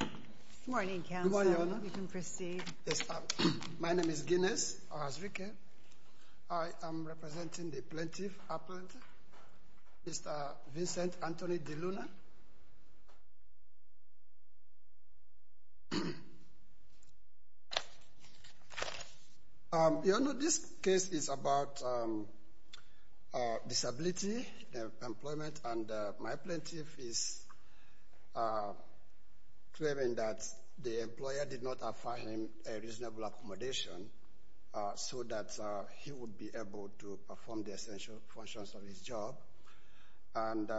Good morning Council, you can proceed. My name is Guinness Ohazrike. I am representing the Plaintiff Appellant, Mr. Vincent Anthony De Luna. This case is about disability, employment, and my plaintiff is claiming that the employer did not offer him a reasonable accommodation so that he would be able to perform the essential functions of his job. And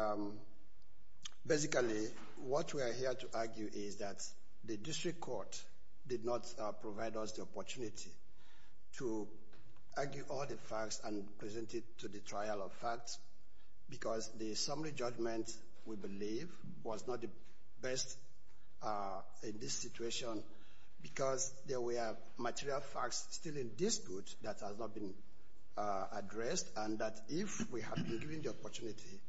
basically what we are here to argue is that the district court did not provide us the opportunity to argue all the facts and present it to the trial of facts because the summary judgment, we believe, was not the best in this situation because there were material facts still in dispute that has not been addressed and that if we had been given the opportunity,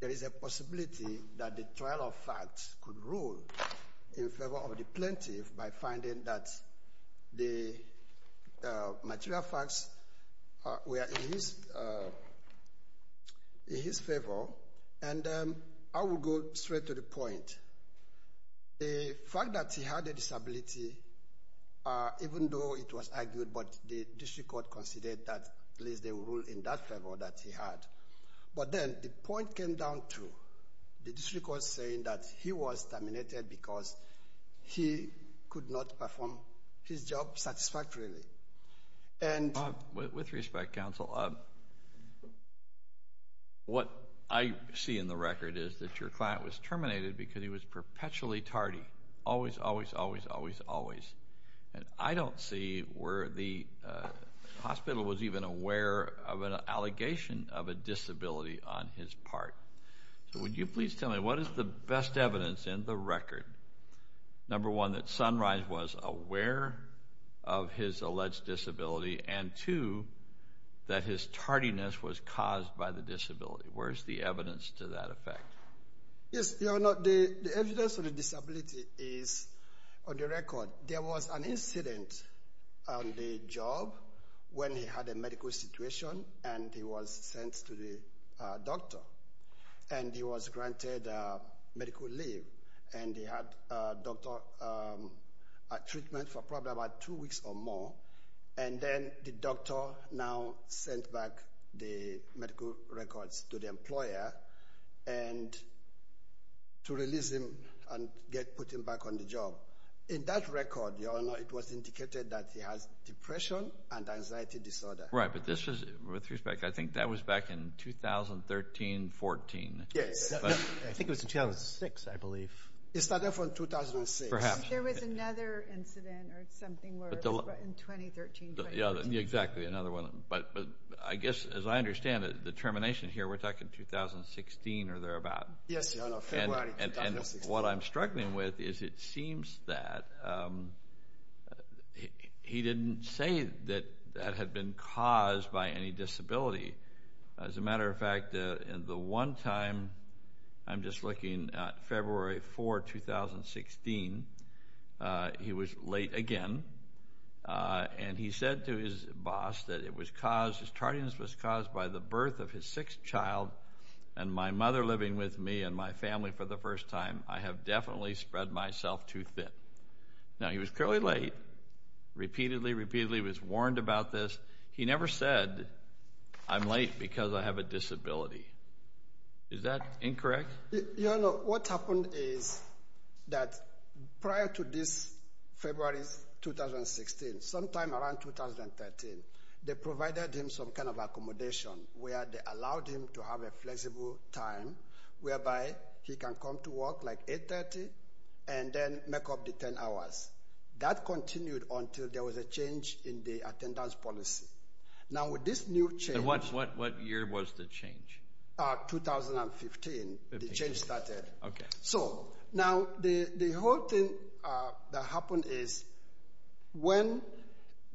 there is a possibility that the trial of facts could rule in favor of the plaintiff by finding that the material facts were in his favor. And I will go straight to the point. The fact that he had a disability, even though it was argued, but the district court considered that at least they would rule in that favor that he had. But then the point came down to the district court saying that he was terminated because he could not perform his job satisfactorily. With respect, counsel, what I see in the record is that your client was terminated because he was perpetually tardy, always, always, always, always, always. And I don't see where the hospital was even aware of an allegation of a disability on his part. So would you please tell me what is the best evidence in the record? Number one, that Sunrise was aware of his alleged disability, and two, that his tardiness was caused by the disability. Where is the evidence to that effect? Yes, Your Honor, the evidence of the disability is on the record. There was an incident on the job when he had a medical situation and he was sent to the doctor. And he was granted medical leave, and he had a doctor treatment for probably about two weeks or more. And then the doctor now sent back the medical records to the employer to release him and put him back on the job. In that record, Your Honor, it was indicated that he has depression and anxiety disorder. Right, but this was, with respect, I think that was back in 2013-14. Yes, I think it was in 2006, I believe. It started from 2006. Perhaps. There was another incident or something in 2013-2014. Exactly, another one. But I guess, as I understand it, the termination here, we're talking 2016 or thereabout. Yes, Your Honor, February 2016. What I'm struggling with is it seems that he didn't say that that had been caused by any disability. As a matter of fact, the one time, I'm just looking, February 4, 2016, he was late again. And he said to his boss that it was caused, his tardiness was caused by the birth of his sixth child. And my mother living with me and my family for the first time, I have definitely spread myself too thin. Now, he was clearly late. Repeatedly, repeatedly was warned about this. He never said, I'm late because I have a disability. Is that incorrect? Your Honor, what happened is that prior to this February 2016, sometime around 2013, they provided him some kind of accommodation where they allowed him to have a flexible time whereby he can come to work like 8.30 and then make up the 10 hours. That continued until there was a change in the attendance policy. Now, with this new change- What year was the change? 2015, the change started. Okay. So, now the whole thing that happened is when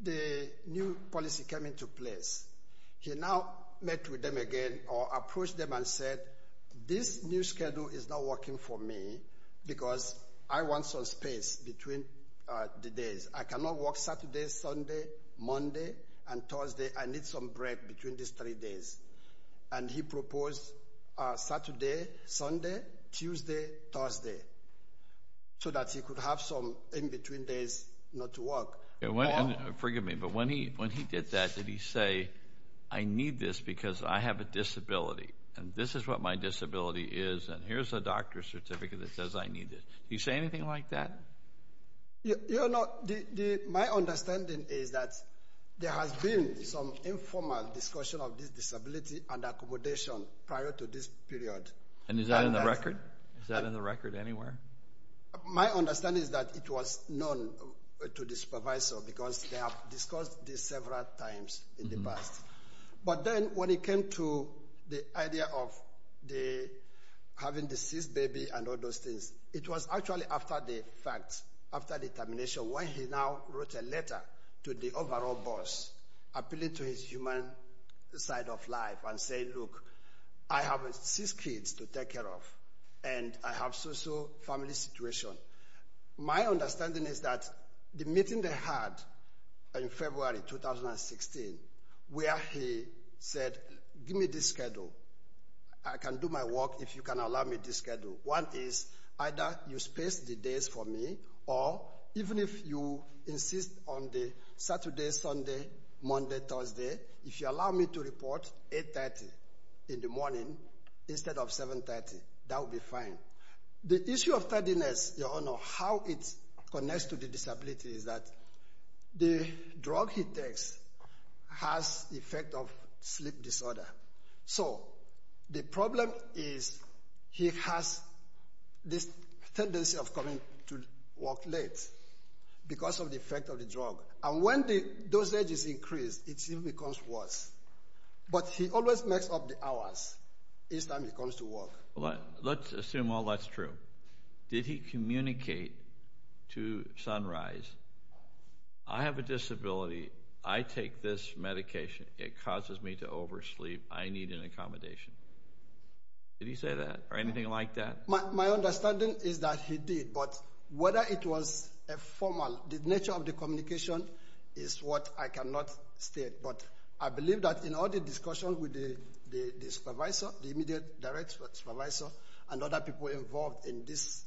the new policy came into place, he now met with them again or approached them and said, this new schedule is not working for me because I want some space between the days. I cannot work Saturday, Sunday, Monday, and Thursday. I need some break between these three days. And he proposed Saturday, Sunday, Tuesday, Thursday, so that he could have some in-between days not to work. Forgive me, but when he did that, did he say, I need this because I have a disability, and this is what my disability is, and here's a doctor's certificate that says I need it. Did he say anything like that? My understanding is that there has been some informal discussion of this disability and accommodation prior to this period. And is that in the record? Is that in the record anywhere? My understanding is that it was known to the supervisor because they have discussed this several times in the past. But then when it came to the idea of having deceased baby and all those things, it was actually after the fact, after the termination, when he now wrote a letter to the overall boss appealing to his human side of life and saying, look, I have six kids to take care of, and I have so-so family situation. My understanding is that the meeting they had in February 2016 where he said, give me this schedule, I can do my work if you can allow me this schedule. One is either you space the days for me, or even if you insist on the Saturday, Sunday, Monday, Thursday, if you allow me to report 8.30 in the morning instead of 7.30, that would be fine. The issue of tardiness, Your Honour, how it connects to the disability is that the drug he takes has effect of sleep disorder. So the problem is he has this tendency of coming to work late because of the effect of the drug. And when the dosage is increased, it becomes worse. But he always makes up the hours each time he comes to work. Let's assume all that's true. Did he communicate to Sunrise, I have a disability, I take this medication, it causes me to oversleep, I need an accommodation? Did he say that, or anything like that? My understanding is that he did, but whether it was a formal, the nature of the communication is what I cannot state. But I believe that in all the discussion with the supervisor, the immediate direct supervisor, and other people involved in this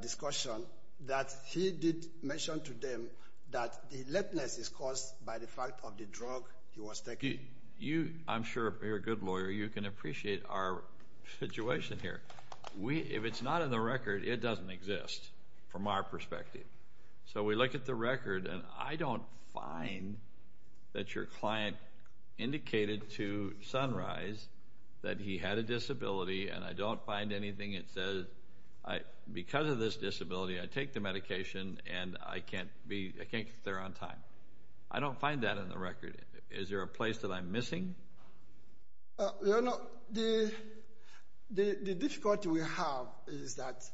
discussion, that he did mention to them that the lateness is caused by the fact of the drug he was taking. You, I'm sure, you're a good lawyer, you can appreciate our situation here. If it's not in the record, it doesn't exist from our perspective. So we look at the record, and I don't find that your client indicated to Sunrise that he had a disability, and I don't find anything that says, because of this disability, I take the medication, and I can't get there on time. I don't find that in the record. Is there a place that I'm missing? The difficulty we have is that,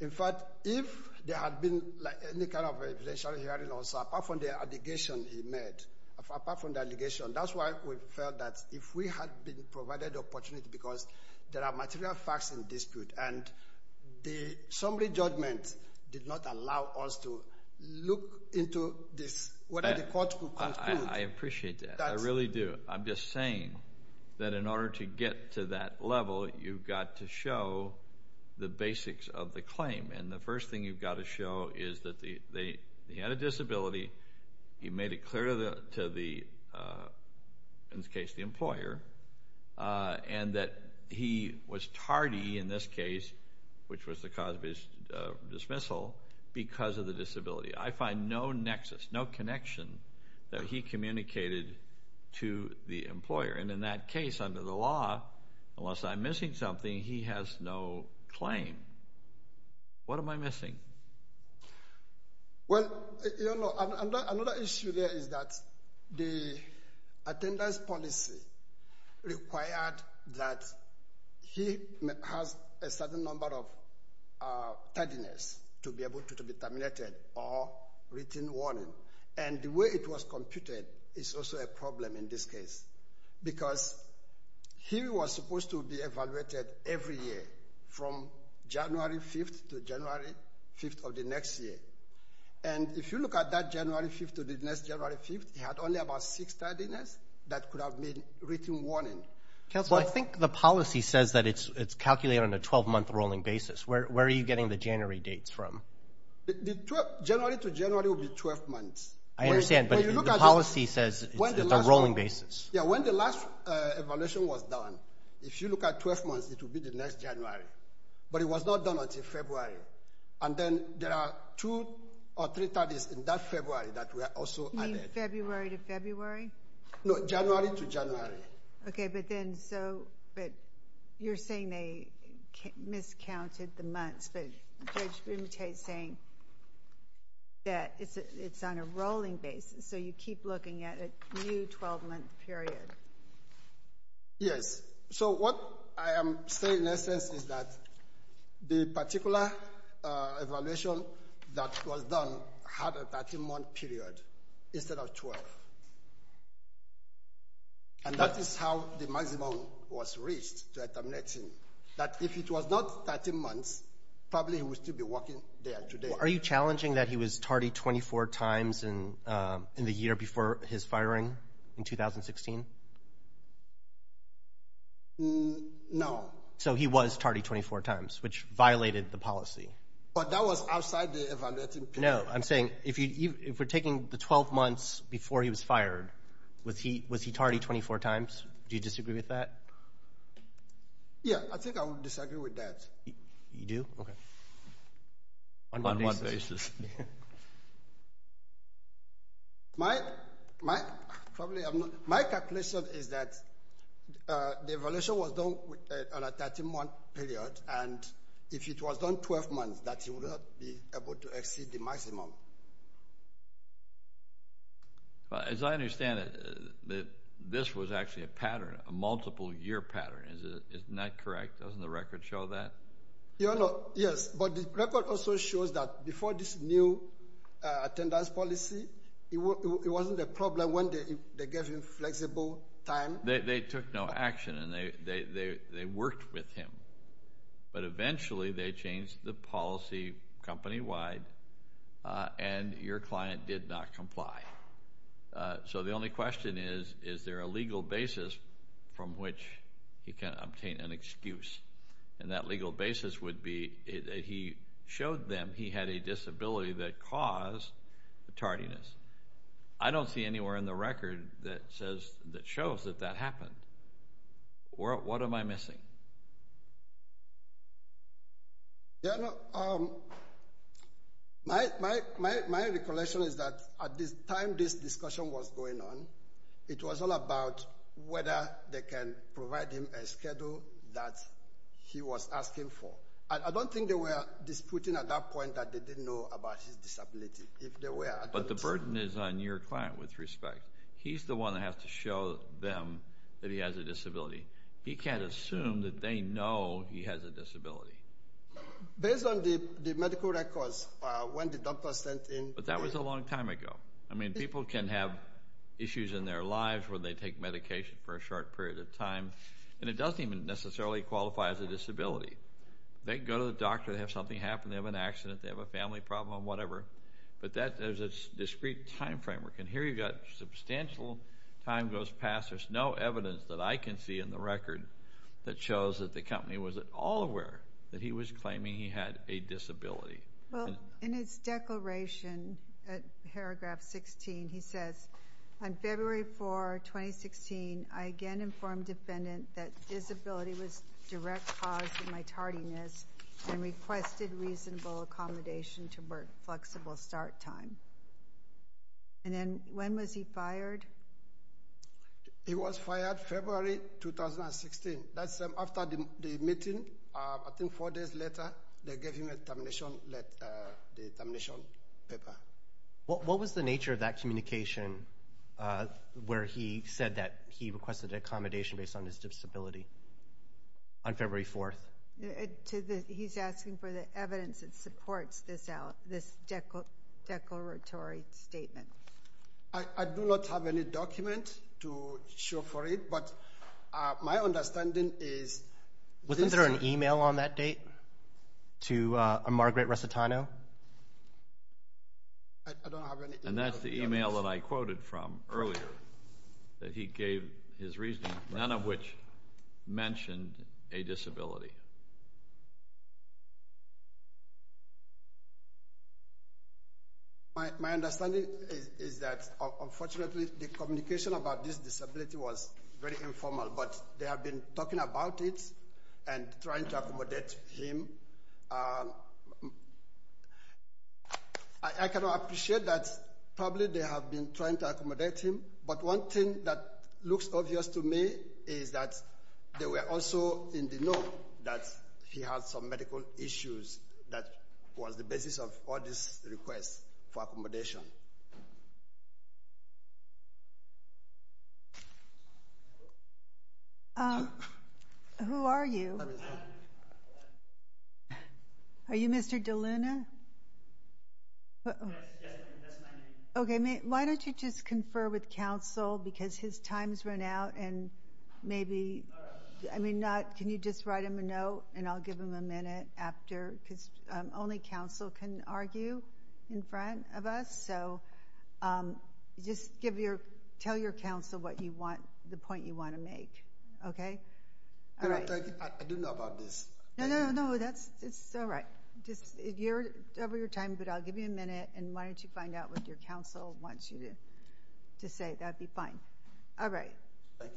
in fact, if there had been any kind of evidential hearing, apart from the allegation he made, apart from the allegation, that's why we felt that if we had been provided the opportunity, because there are material facts in dispute, and the summary judgment did not allow us to look into this, whether the court could conclude. I appreciate that. I really do. I'm just saying that in order to get to that level, you've got to show the basics of the claim. And the first thing you've got to show is that he had a disability, he made it clear to the, in this case, the employer, and that he was tardy in this case, which was the cause of his dismissal, because of the disability. I find no nexus, no connection that he communicated to the employer. And in that case, under the law, unless I'm missing something, he has no claim. What am I missing? Well, you know, another issue there is that the attendance policy required that he has a certain number of tardiness to be able to be terminated or written warning. And the way it was computed is also a problem in this case, because he was supposed to be evaluated every year from January 5th to January 5th of the next year. And if you look at that January 5th to the next January 5th, he had only about six tardiness that could have been written warning. Counsel, I think the policy says that it's calculated on a 12-month rolling basis. Where are you getting the January dates from? The January to January will be 12 months. I understand, but the policy says it's a rolling basis. Yeah, when the last evaluation was done, if you look at 12 months, it will be the next January. But it was not done until February. And then there are two or three tardiness in that February that were also added. You mean February to February? No, January to January. Okay, but then, so you're saying they miscounted the months, but Judge Bimute is saying that it's on a rolling basis, so you keep looking at a new 12-month period. Yes. So what I am saying, in essence, is that the particular evaluation that was done had a 13-month period instead of 12. And that is how the maximum was reached, that 13. That if it was not 13 months, probably he would still be working there today. Are you challenging that he was tardy 24 times in the year before his firing in 2016? No. So he was tardy 24 times, which violated the policy. But that was outside the evaluating period. No, I'm saying if we're taking the 12 months before he was fired, was he tardy 24 times? Do you disagree with that? Yeah, I think I would disagree with that. You do? Okay. On what basis? My calculation is that the evaluation was done on a 13-month period, and if it was done 12 months, that he would not be able to exceed the maximum. As I understand it, this was actually a pattern, a multiple-year pattern. Isn't that correct? Doesn't the record show that? Yes, but the record also shows that before this new attendance policy, it wasn't a problem when they gave him flexible time. They took no action, and they worked with him. But eventually they changed the policy company-wide, and your client did not comply. So the only question is, is there a legal basis from which he can obtain an excuse? And that legal basis would be that he showed them he had a disability that caused tardiness. I don't see anywhere in the record that shows that that happened. What am I missing? My recollection is that at the time this discussion was going on, it was all about whether they can provide him a schedule that he was asking for. I don't think they were disputing at that point that they didn't know about his disability. But the burden is on your client, with respect. He's the one that has to show them that he has a disability. He can't assume that they know he has a disability. Based on the medical records, when the doctor sent in— But that was a long time ago. I mean, people can have issues in their lives where they take medication for a short period of time, and it doesn't even necessarily qualify as a disability. They can go to the doctor, they have something happen, they have an accident, they have a family problem, whatever. But there's a discrete time framework. And here you've got substantial time goes past. There's no evidence that I can see in the record that shows that the company was at all aware that he was claiming he had a disability. Well, in his declaration, paragraph 16, he says, On February 4, 2016, I again informed defendant that disability was direct cause of my tardiness and requested reasonable accommodation to work flexible start time. And then when was he fired? He was fired February 2016. That's after the meeting. I think four days later, they gave him the termination paper. What was the nature of that communication where he said that he requested accommodation based on his disability on February 4? He's asking for the evidence that supports this declaratory statement. I do not have any document to show for it, but my understanding is... Wasn't there an e-mail on that date to Margaret Resitano? And that's the e-mail that I quoted from earlier that he gave his reasoning, none of which mentioned a disability. Thank you. My understanding is that, unfortunately, the communication about this disability was very informal, but they have been talking about it and trying to accommodate him. I cannot appreciate that probably they have been trying to accommodate him, but one thing that looks obvious to me is that they were also in the know that he had some medical issues that was the basis of all these requests for accommodation. Who are you? Are you Mr. Deluna? Yes, that's my name. Okay, why don't you just confer with counsel because his time has run out and maybe... I mean, can you just write him a note and I'll give him a minute after, because only counsel can argue in front of us. So just tell your counsel the point you want to make, okay? I do know about this. No, no, no, that's all right. You're over your time, but I'll give you a minute, and why don't you find out what your counsel wants you to say. That would be fine. All right. Thank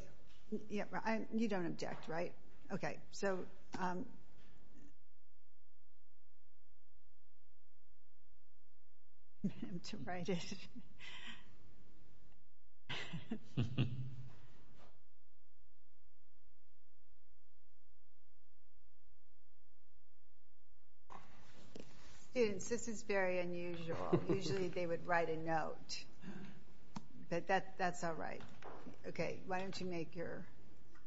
you. You don't object, right? Okay, so... Students, this is very unusual. Usually they would write a note, but that's all right. Okay, why don't you make your...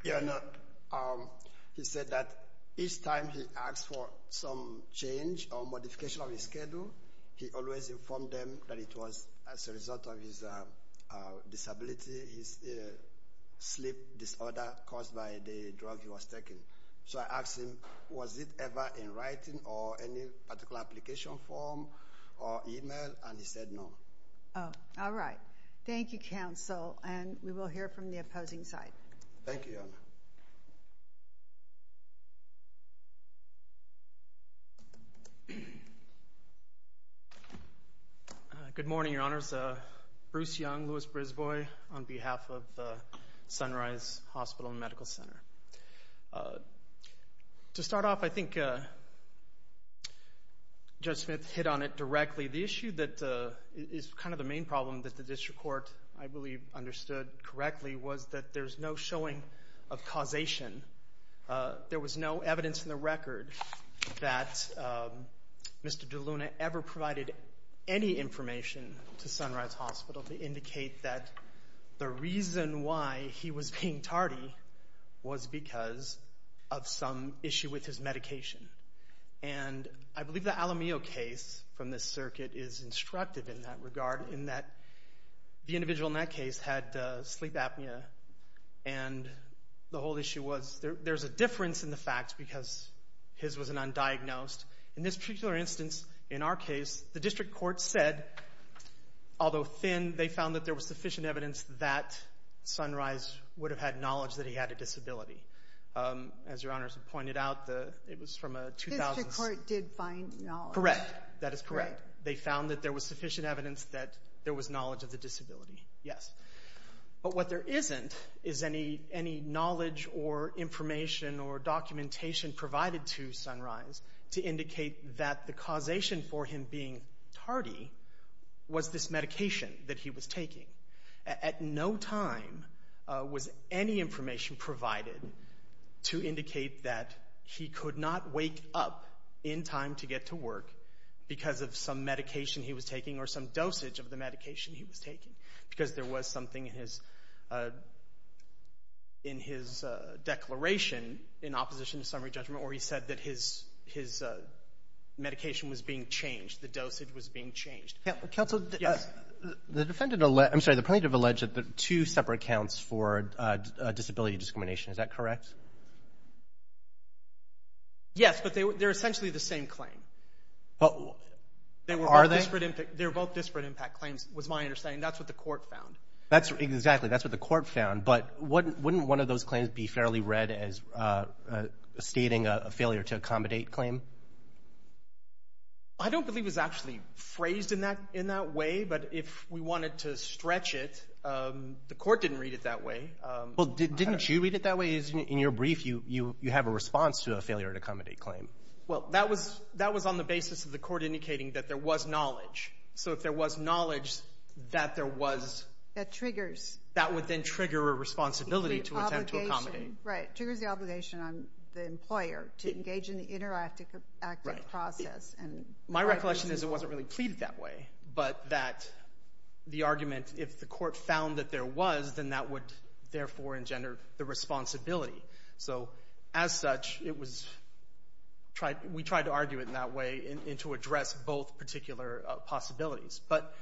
He said that each time he asked for some change or modification of his schedule, he always informed them that it was as a result of his disability, his sleep disorder caused by the drug he was taking. So I asked him, was it ever in writing or any particular application form or email, and he said no. All right. Thank you, counsel, and we will hear from the opposing side. Thank you, Your Honor. Good morning, Your Honors. Bruce Young, Louis Brisbane, on behalf of Sunrise Hospital and Medical Center. To start off, I think Judge Smith hit on it directly. The issue that is kind of the main problem that the district court, I believe, understood correctly was that there's no showing of causation. There was no evidence in the record that Mr. DeLuna ever provided any information to Sunrise Hospital to indicate that the reason why he was being tardy was because of some issue with his medication. And I believe the Alamillo case from this circuit is instructive in that regard because the case had sleep apnea, and the whole issue was there's a difference in the facts because his was an undiagnosed. In this particular instance, in our case, the district court said, although thin, they found that there was sufficient evidence that Sunrise would have had knowledge that he had a disability. As Your Honors had pointed out, it was from a 2006. The district court did find knowledge. Correct. That is correct. They found that there was sufficient evidence that there was knowledge of the disability, yes. But what there isn't is any knowledge or information or documentation provided to Sunrise to indicate that the causation for him being tardy was this medication that he was taking. At no time was any information provided to indicate that he could not wake up in time to get to work because of some medication he was taking or some dosage of the medication he was taking because there was something in his declaration in opposition to summary judgment where he said that his medication was being changed, the dosage was being changed. Counsel, the plaintiff alleged that there were two separate counts for disability discrimination. Is that correct? Yes. Yes, but they're essentially the same claim. Are they? They were both disparate impact claims was my understanding. That's what the court found. Exactly. That's what the court found. But wouldn't one of those claims be fairly read as stating a failure to accommodate claim? I don't believe it was actually phrased in that way, but if we wanted to stretch it, the court didn't read it that way. Well, didn't you read it that way? In your brief, you have a response to a failure to accommodate claim. Well, that was on the basis of the court indicating that there was knowledge. So if there was knowledge that there was – That triggers – That would then trigger a responsibility to attempt to accommodate. Right, triggers the obligation on the employer to engage in the interactive process. My recollection is it wasn't really pleaded that way, but that the argument if the court found that there was, then that would therefore engender the responsibility. So, as such, it was – we tried to argue it in that way and to address both particular possibilities. But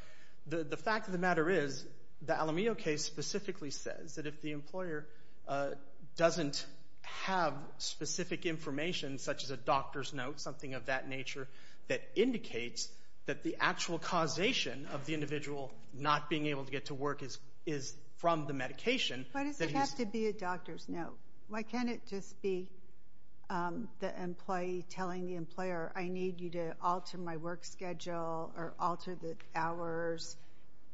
the fact of the matter is the Alamillo case specifically says that if the employer doesn't have specific information, such as a doctor's note, something of that nature, that indicates that the actual causation of the individual not being able to get to work is from the medication. Why does it have to be a doctor's note? Why can't it just be the employee telling the employer, I need you to alter my work schedule or alter the hours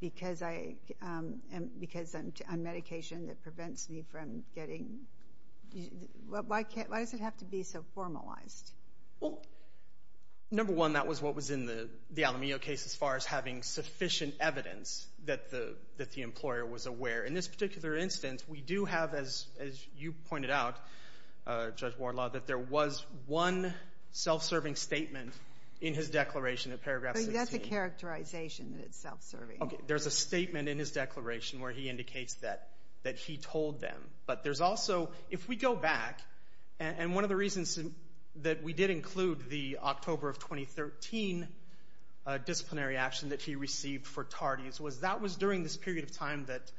because I'm on medication that prevents me from getting – why does it have to be so formalized? Well, number one, that was what was in the Alamillo case as far as having sufficient evidence that the employer was aware. In this particular instance, we do have, as you pointed out, Judge Wardlaw, that there was one self-serving statement in his declaration in paragraph 16. That's a characterization that it's self-serving. Okay, there's a statement in his declaration where he indicates that he told them. But there's also, if we go back, and one of the reasons that we did include the October of 2013 disciplinary action that he received for TARDIS was that was during this period of time that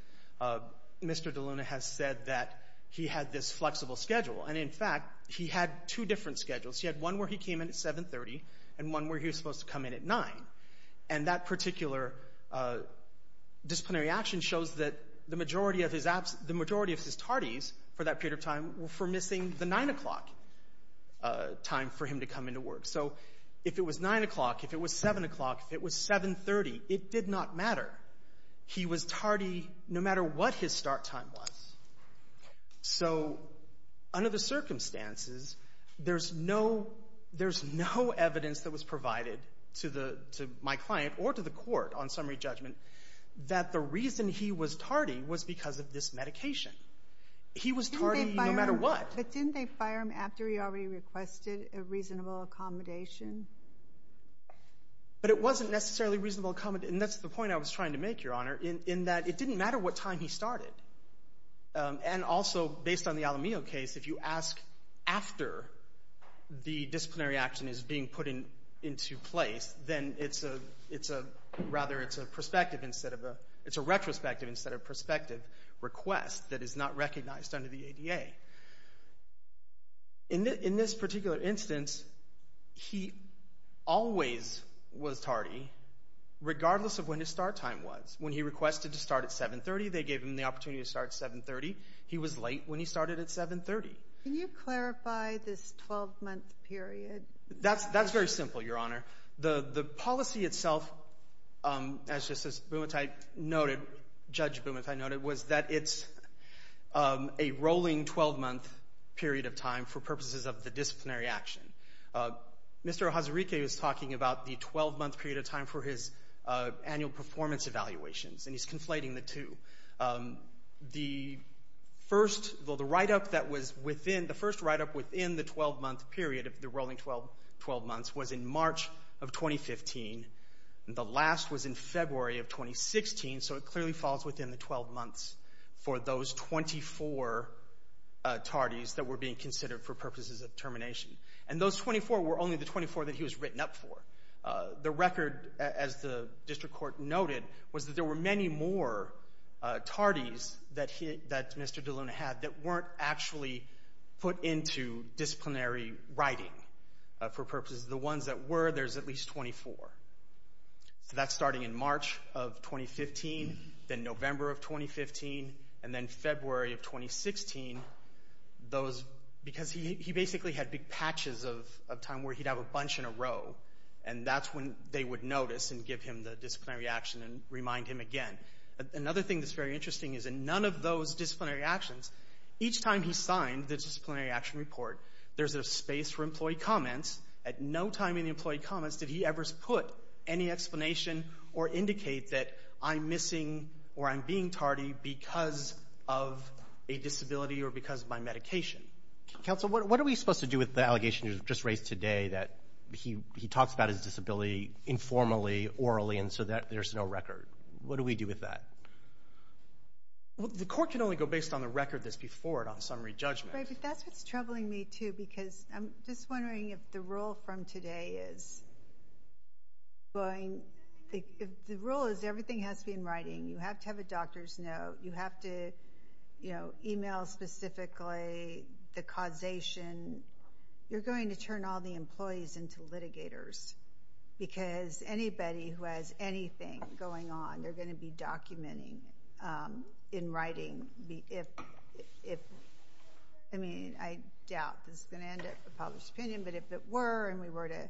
Mr. DeLuna has said that he had this flexible schedule. And, in fact, he had two different schedules. He had one where he came in at 7.30 and one where he was supposed to come in at 9. And that particular disciplinary action shows that the majority of his TARDIS for that period of time were for missing the 9 o'clock time for him to come into work. So if it was 9 o'clock, if it was 7 o'clock, if it was 7.30, it did not matter. He was TARDI no matter what his start time was. So under the circumstances, there's no evidence that was provided to my client or to the court on summary judgment that the reason he was TARDI was because of this medication. He was TARDI no matter what. But didn't they fire him after he already requested a reasonable accommodation? But it wasn't necessarily reasonable accommodation. And that's the point I was trying to make, Your Honor, in that it didn't matter what time he started. And also, based on the Alamillo case, if you ask after the disciplinary action is being put into place, then it's a retrospective instead of prospective request that is not recognized under the ADA. In this particular instance, he always was TARDI regardless of when his start time was. When he requested to start at 7.30, they gave him the opportunity to start at 7.30. He was late when he started at 7.30. Can you clarify this 12-month period? That's very simple, Your Honor. The policy itself, as Justice Bumatay noted, Judge Bumatay noted, was that it's a rolling 12-month period of time for purposes of the disciplinary action. Mr. Hazariki was talking about the 12-month period of time for his annual performance evaluations, and he's conflating the two. The first write-up within the 12-month period of the rolling 12 months was in March of 2015. The last was in February of 2016, so it clearly falls within the 12 months for those 24 TARDIs that were being considered for purposes of termination. And those 24 were only the 24 that he was written up for. The record, as the district court noted, was that there were many more TARDIs that Mr. DeLuna had that weren't actually put into disciplinary writing. For purposes of the ones that were, there's at least 24. So that's starting in March of 2015, then November of 2015, and then February of 2016. Because he basically had big patches of time where he'd have a bunch in a row, and that's when they would notice and give him the disciplinary action and remind him again. Another thing that's very interesting is in none of those disciplinary actions, each time he signed the disciplinary action report, there's a space for employee comments. At no time in the employee comments did he ever put any explanation or indicate that I'm missing or I'm being TARDI because of a disability or because of my medication. Counsel, what are we supposed to do with the allegation you just raised today that he talks about his disability informally, orally, and so there's no record? What do we do with that? The court can only go based on the record that's before it on summary judgment. That's what's troubling me, too, because I'm just wondering if the rule from today is going, the rule is everything has to be in writing. You have to have a doctor's note. You have to email specifically the causation. You're going to turn all the employees into litigators because anybody who has anything going on, they're going to be documenting in writing. I mean, I doubt this is going to end up a published opinion, but if it were and we were to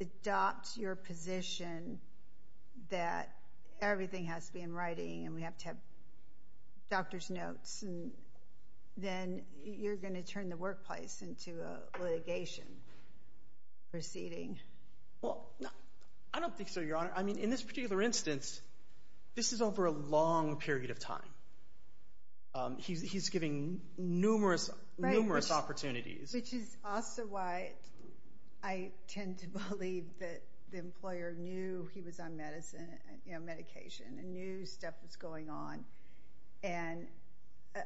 adopt your position that everything has to be in writing and we have to have doctor's notes, then you're going to turn the workplace into a litigation proceeding. Well, I don't think so, Your Honor. I mean, in this particular instance, this is over a long period of time. He's giving numerous, numerous opportunities. Which is also why I tend to believe that the employer knew he was on medication and knew stuff was going on.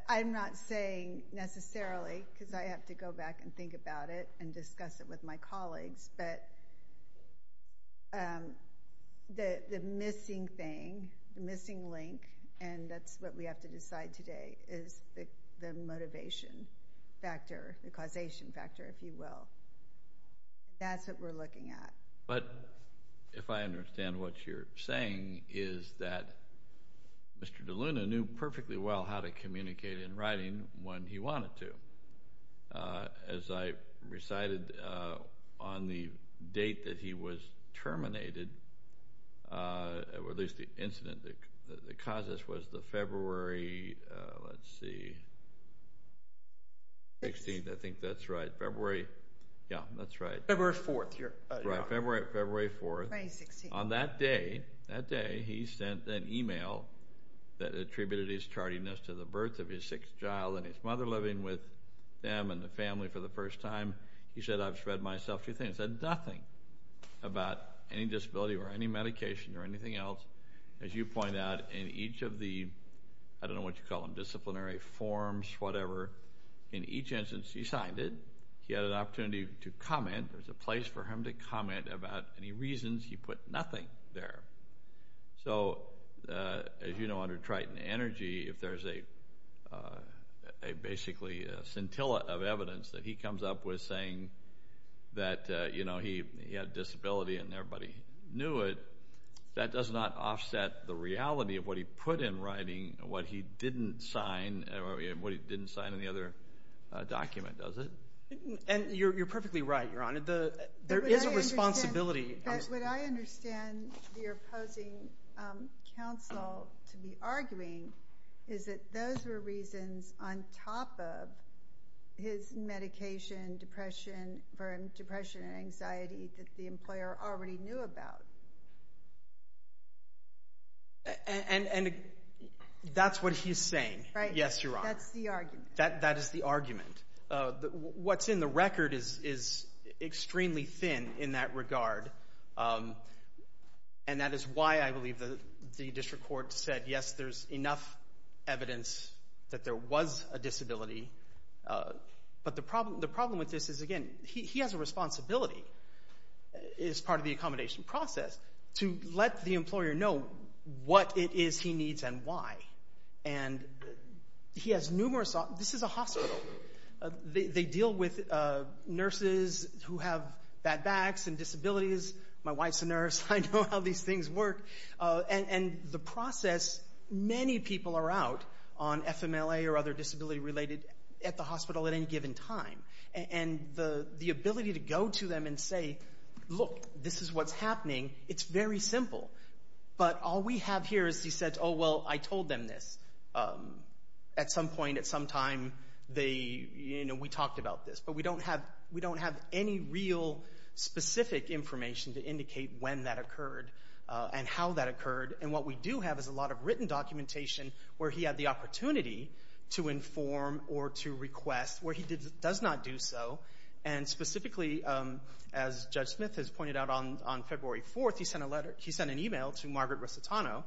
I'm not saying necessarily because I have to go back and think about it and discuss it with my colleagues, but the missing thing, the missing link, and that's what we have to decide today is the motivation factor, the causation factor, if you will. That's what we're looking at. But if I understand what you're saying, is that Mr. DeLuna knew perfectly well how to communicate in writing when he wanted to. As I recited on the date that he was terminated, or at least the incident that caused this was the February, let's see, 16th, I think that's right, February, yeah, that's right. February 4th, Your Honor. Right, February 4th. 2016. On that day, that day, he sent an email that attributed his tardiness to the birth of his sixth child and his mother living with them and the family for the first time. He said, I've read myself a few things. He said nothing about any disability or any medication or anything else. As you point out, in each of the, I don't know what you call them, disciplinary forms, whatever, in each instance he signed it, he had an opportunity to comment, there was a place for him to comment about any reasons he put nothing there. So, as you know, under Triton Energy, if there's a basically scintilla of evidence that he comes up with saying that, you know, he had a disability and everybody knew it, that does not offset the reality of what he put in writing, what he didn't sign, what he didn't sign in the other document, does it? And you're perfectly right, Your Honor. There is a responsibility. But what I understand the opposing counsel to be arguing is that those were reasons on top of his medication, depression and anxiety that the employer already knew about. And that's what he's saying. Right. Yes, Your Honor. That's the argument. That is the argument. What's in the record is extremely thin in that regard. And that is why I believe the district court said, yes, there's enough evidence that there was a disability. But the problem with this is, again, he has a responsibility as part of the accommodation process to let the employer know what it is he needs and why. And this is a hospital. They deal with nurses who have bad backs and disabilities. My wife's a nurse. I know how these things work. And the process, many people are out on FMLA or other disability-related at the hospital at any given time. And the ability to go to them and say, look, this is what's happening, it's very simple. But all we have here is he said, oh, well, I told them this. At some point, at some time, we talked about this. But we don't have any real specific information to indicate when that occurred and how that occurred. And what we do have is a lot of written documentation where he had the opportunity to inform or to request where he does not do so. And specifically, as Judge Smith has pointed out, on February 4th, he sent an e-mail to Margaret Rossitano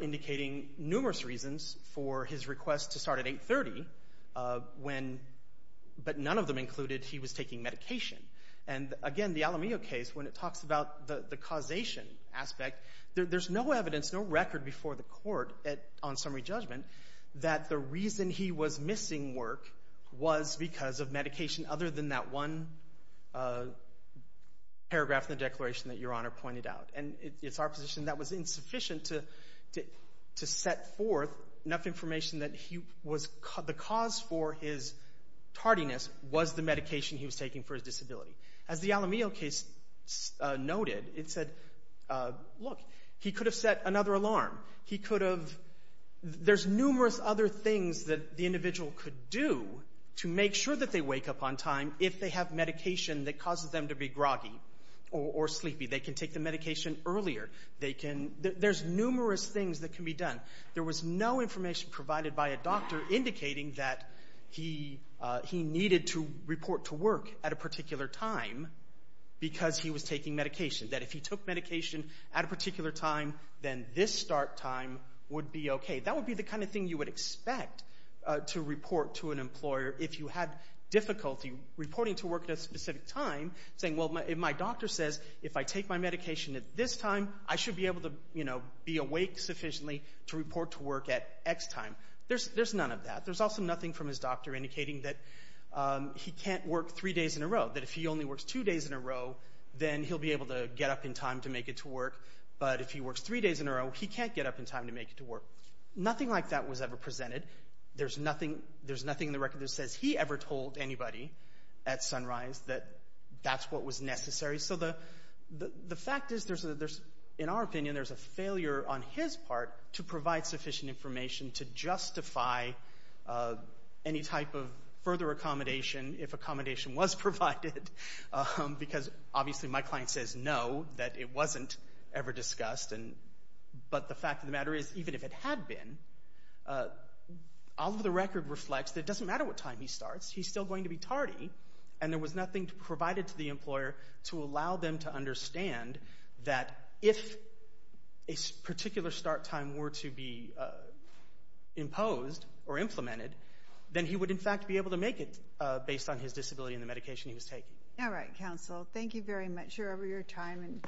indicating numerous reasons for his request to start at 830, but none of them included he was taking medication. And, again, the Alamillo case, when it talks about the causation aspect, there's no evidence, no record before the court on summary judgment that the reason he was missing work was because of medication other than that one paragraph in the declaration that Your Honor pointed out. And it's our position that was insufficient to set forth enough information that the cause for his tardiness was the medication he was taking for his disability. As the Alamillo case noted, it said, look, he could have set another alarm. There's numerous other things that the individual could do to make sure that they wake up on time if they have medication that causes them to be groggy or sleepy. They can take the medication earlier. There's numerous things that can be done. There was no information provided by a doctor indicating that he needed to report to work at a particular time because he was taking medication. That if he took medication at a particular time, then this start time would be okay. That would be the kind of thing you would expect to report to an employer if you had difficulty reporting to work at a specific time, saying, well, my doctor says if I take my medication at this time, I should be able to be awake sufficiently to report to work at X time. There's none of that. There's also nothing from his doctor indicating that he can't work three days in a row, that if he only works two days in a row, then he'll be able to get up in time to make it to work. But if he works three days in a row, he can't get up in time to make it to work. Nothing like that was ever presented. There's nothing in the record that says he ever told anybody at Sunrise that that's what was necessary. So the fact is, in our opinion, there's a failure on his part to provide sufficient information to justify any type of further accommodation if accommodation was provided, because obviously my client says no, that it wasn't ever discussed. But the fact of the matter is, even if it had been, all of the record reflects that it doesn't matter what time he starts. He's still going to be tardy, and there was nothing provided to the employer to allow them to understand that if a particular start time were to be imposed or implemented, then he would, in fact, be able to make it based on his disability and the medication he was taking. All right, counsel. Thank you very much for your time.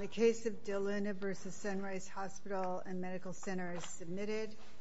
The case of DeLuna v. Sunrise Hospital and Medical Center is submitted.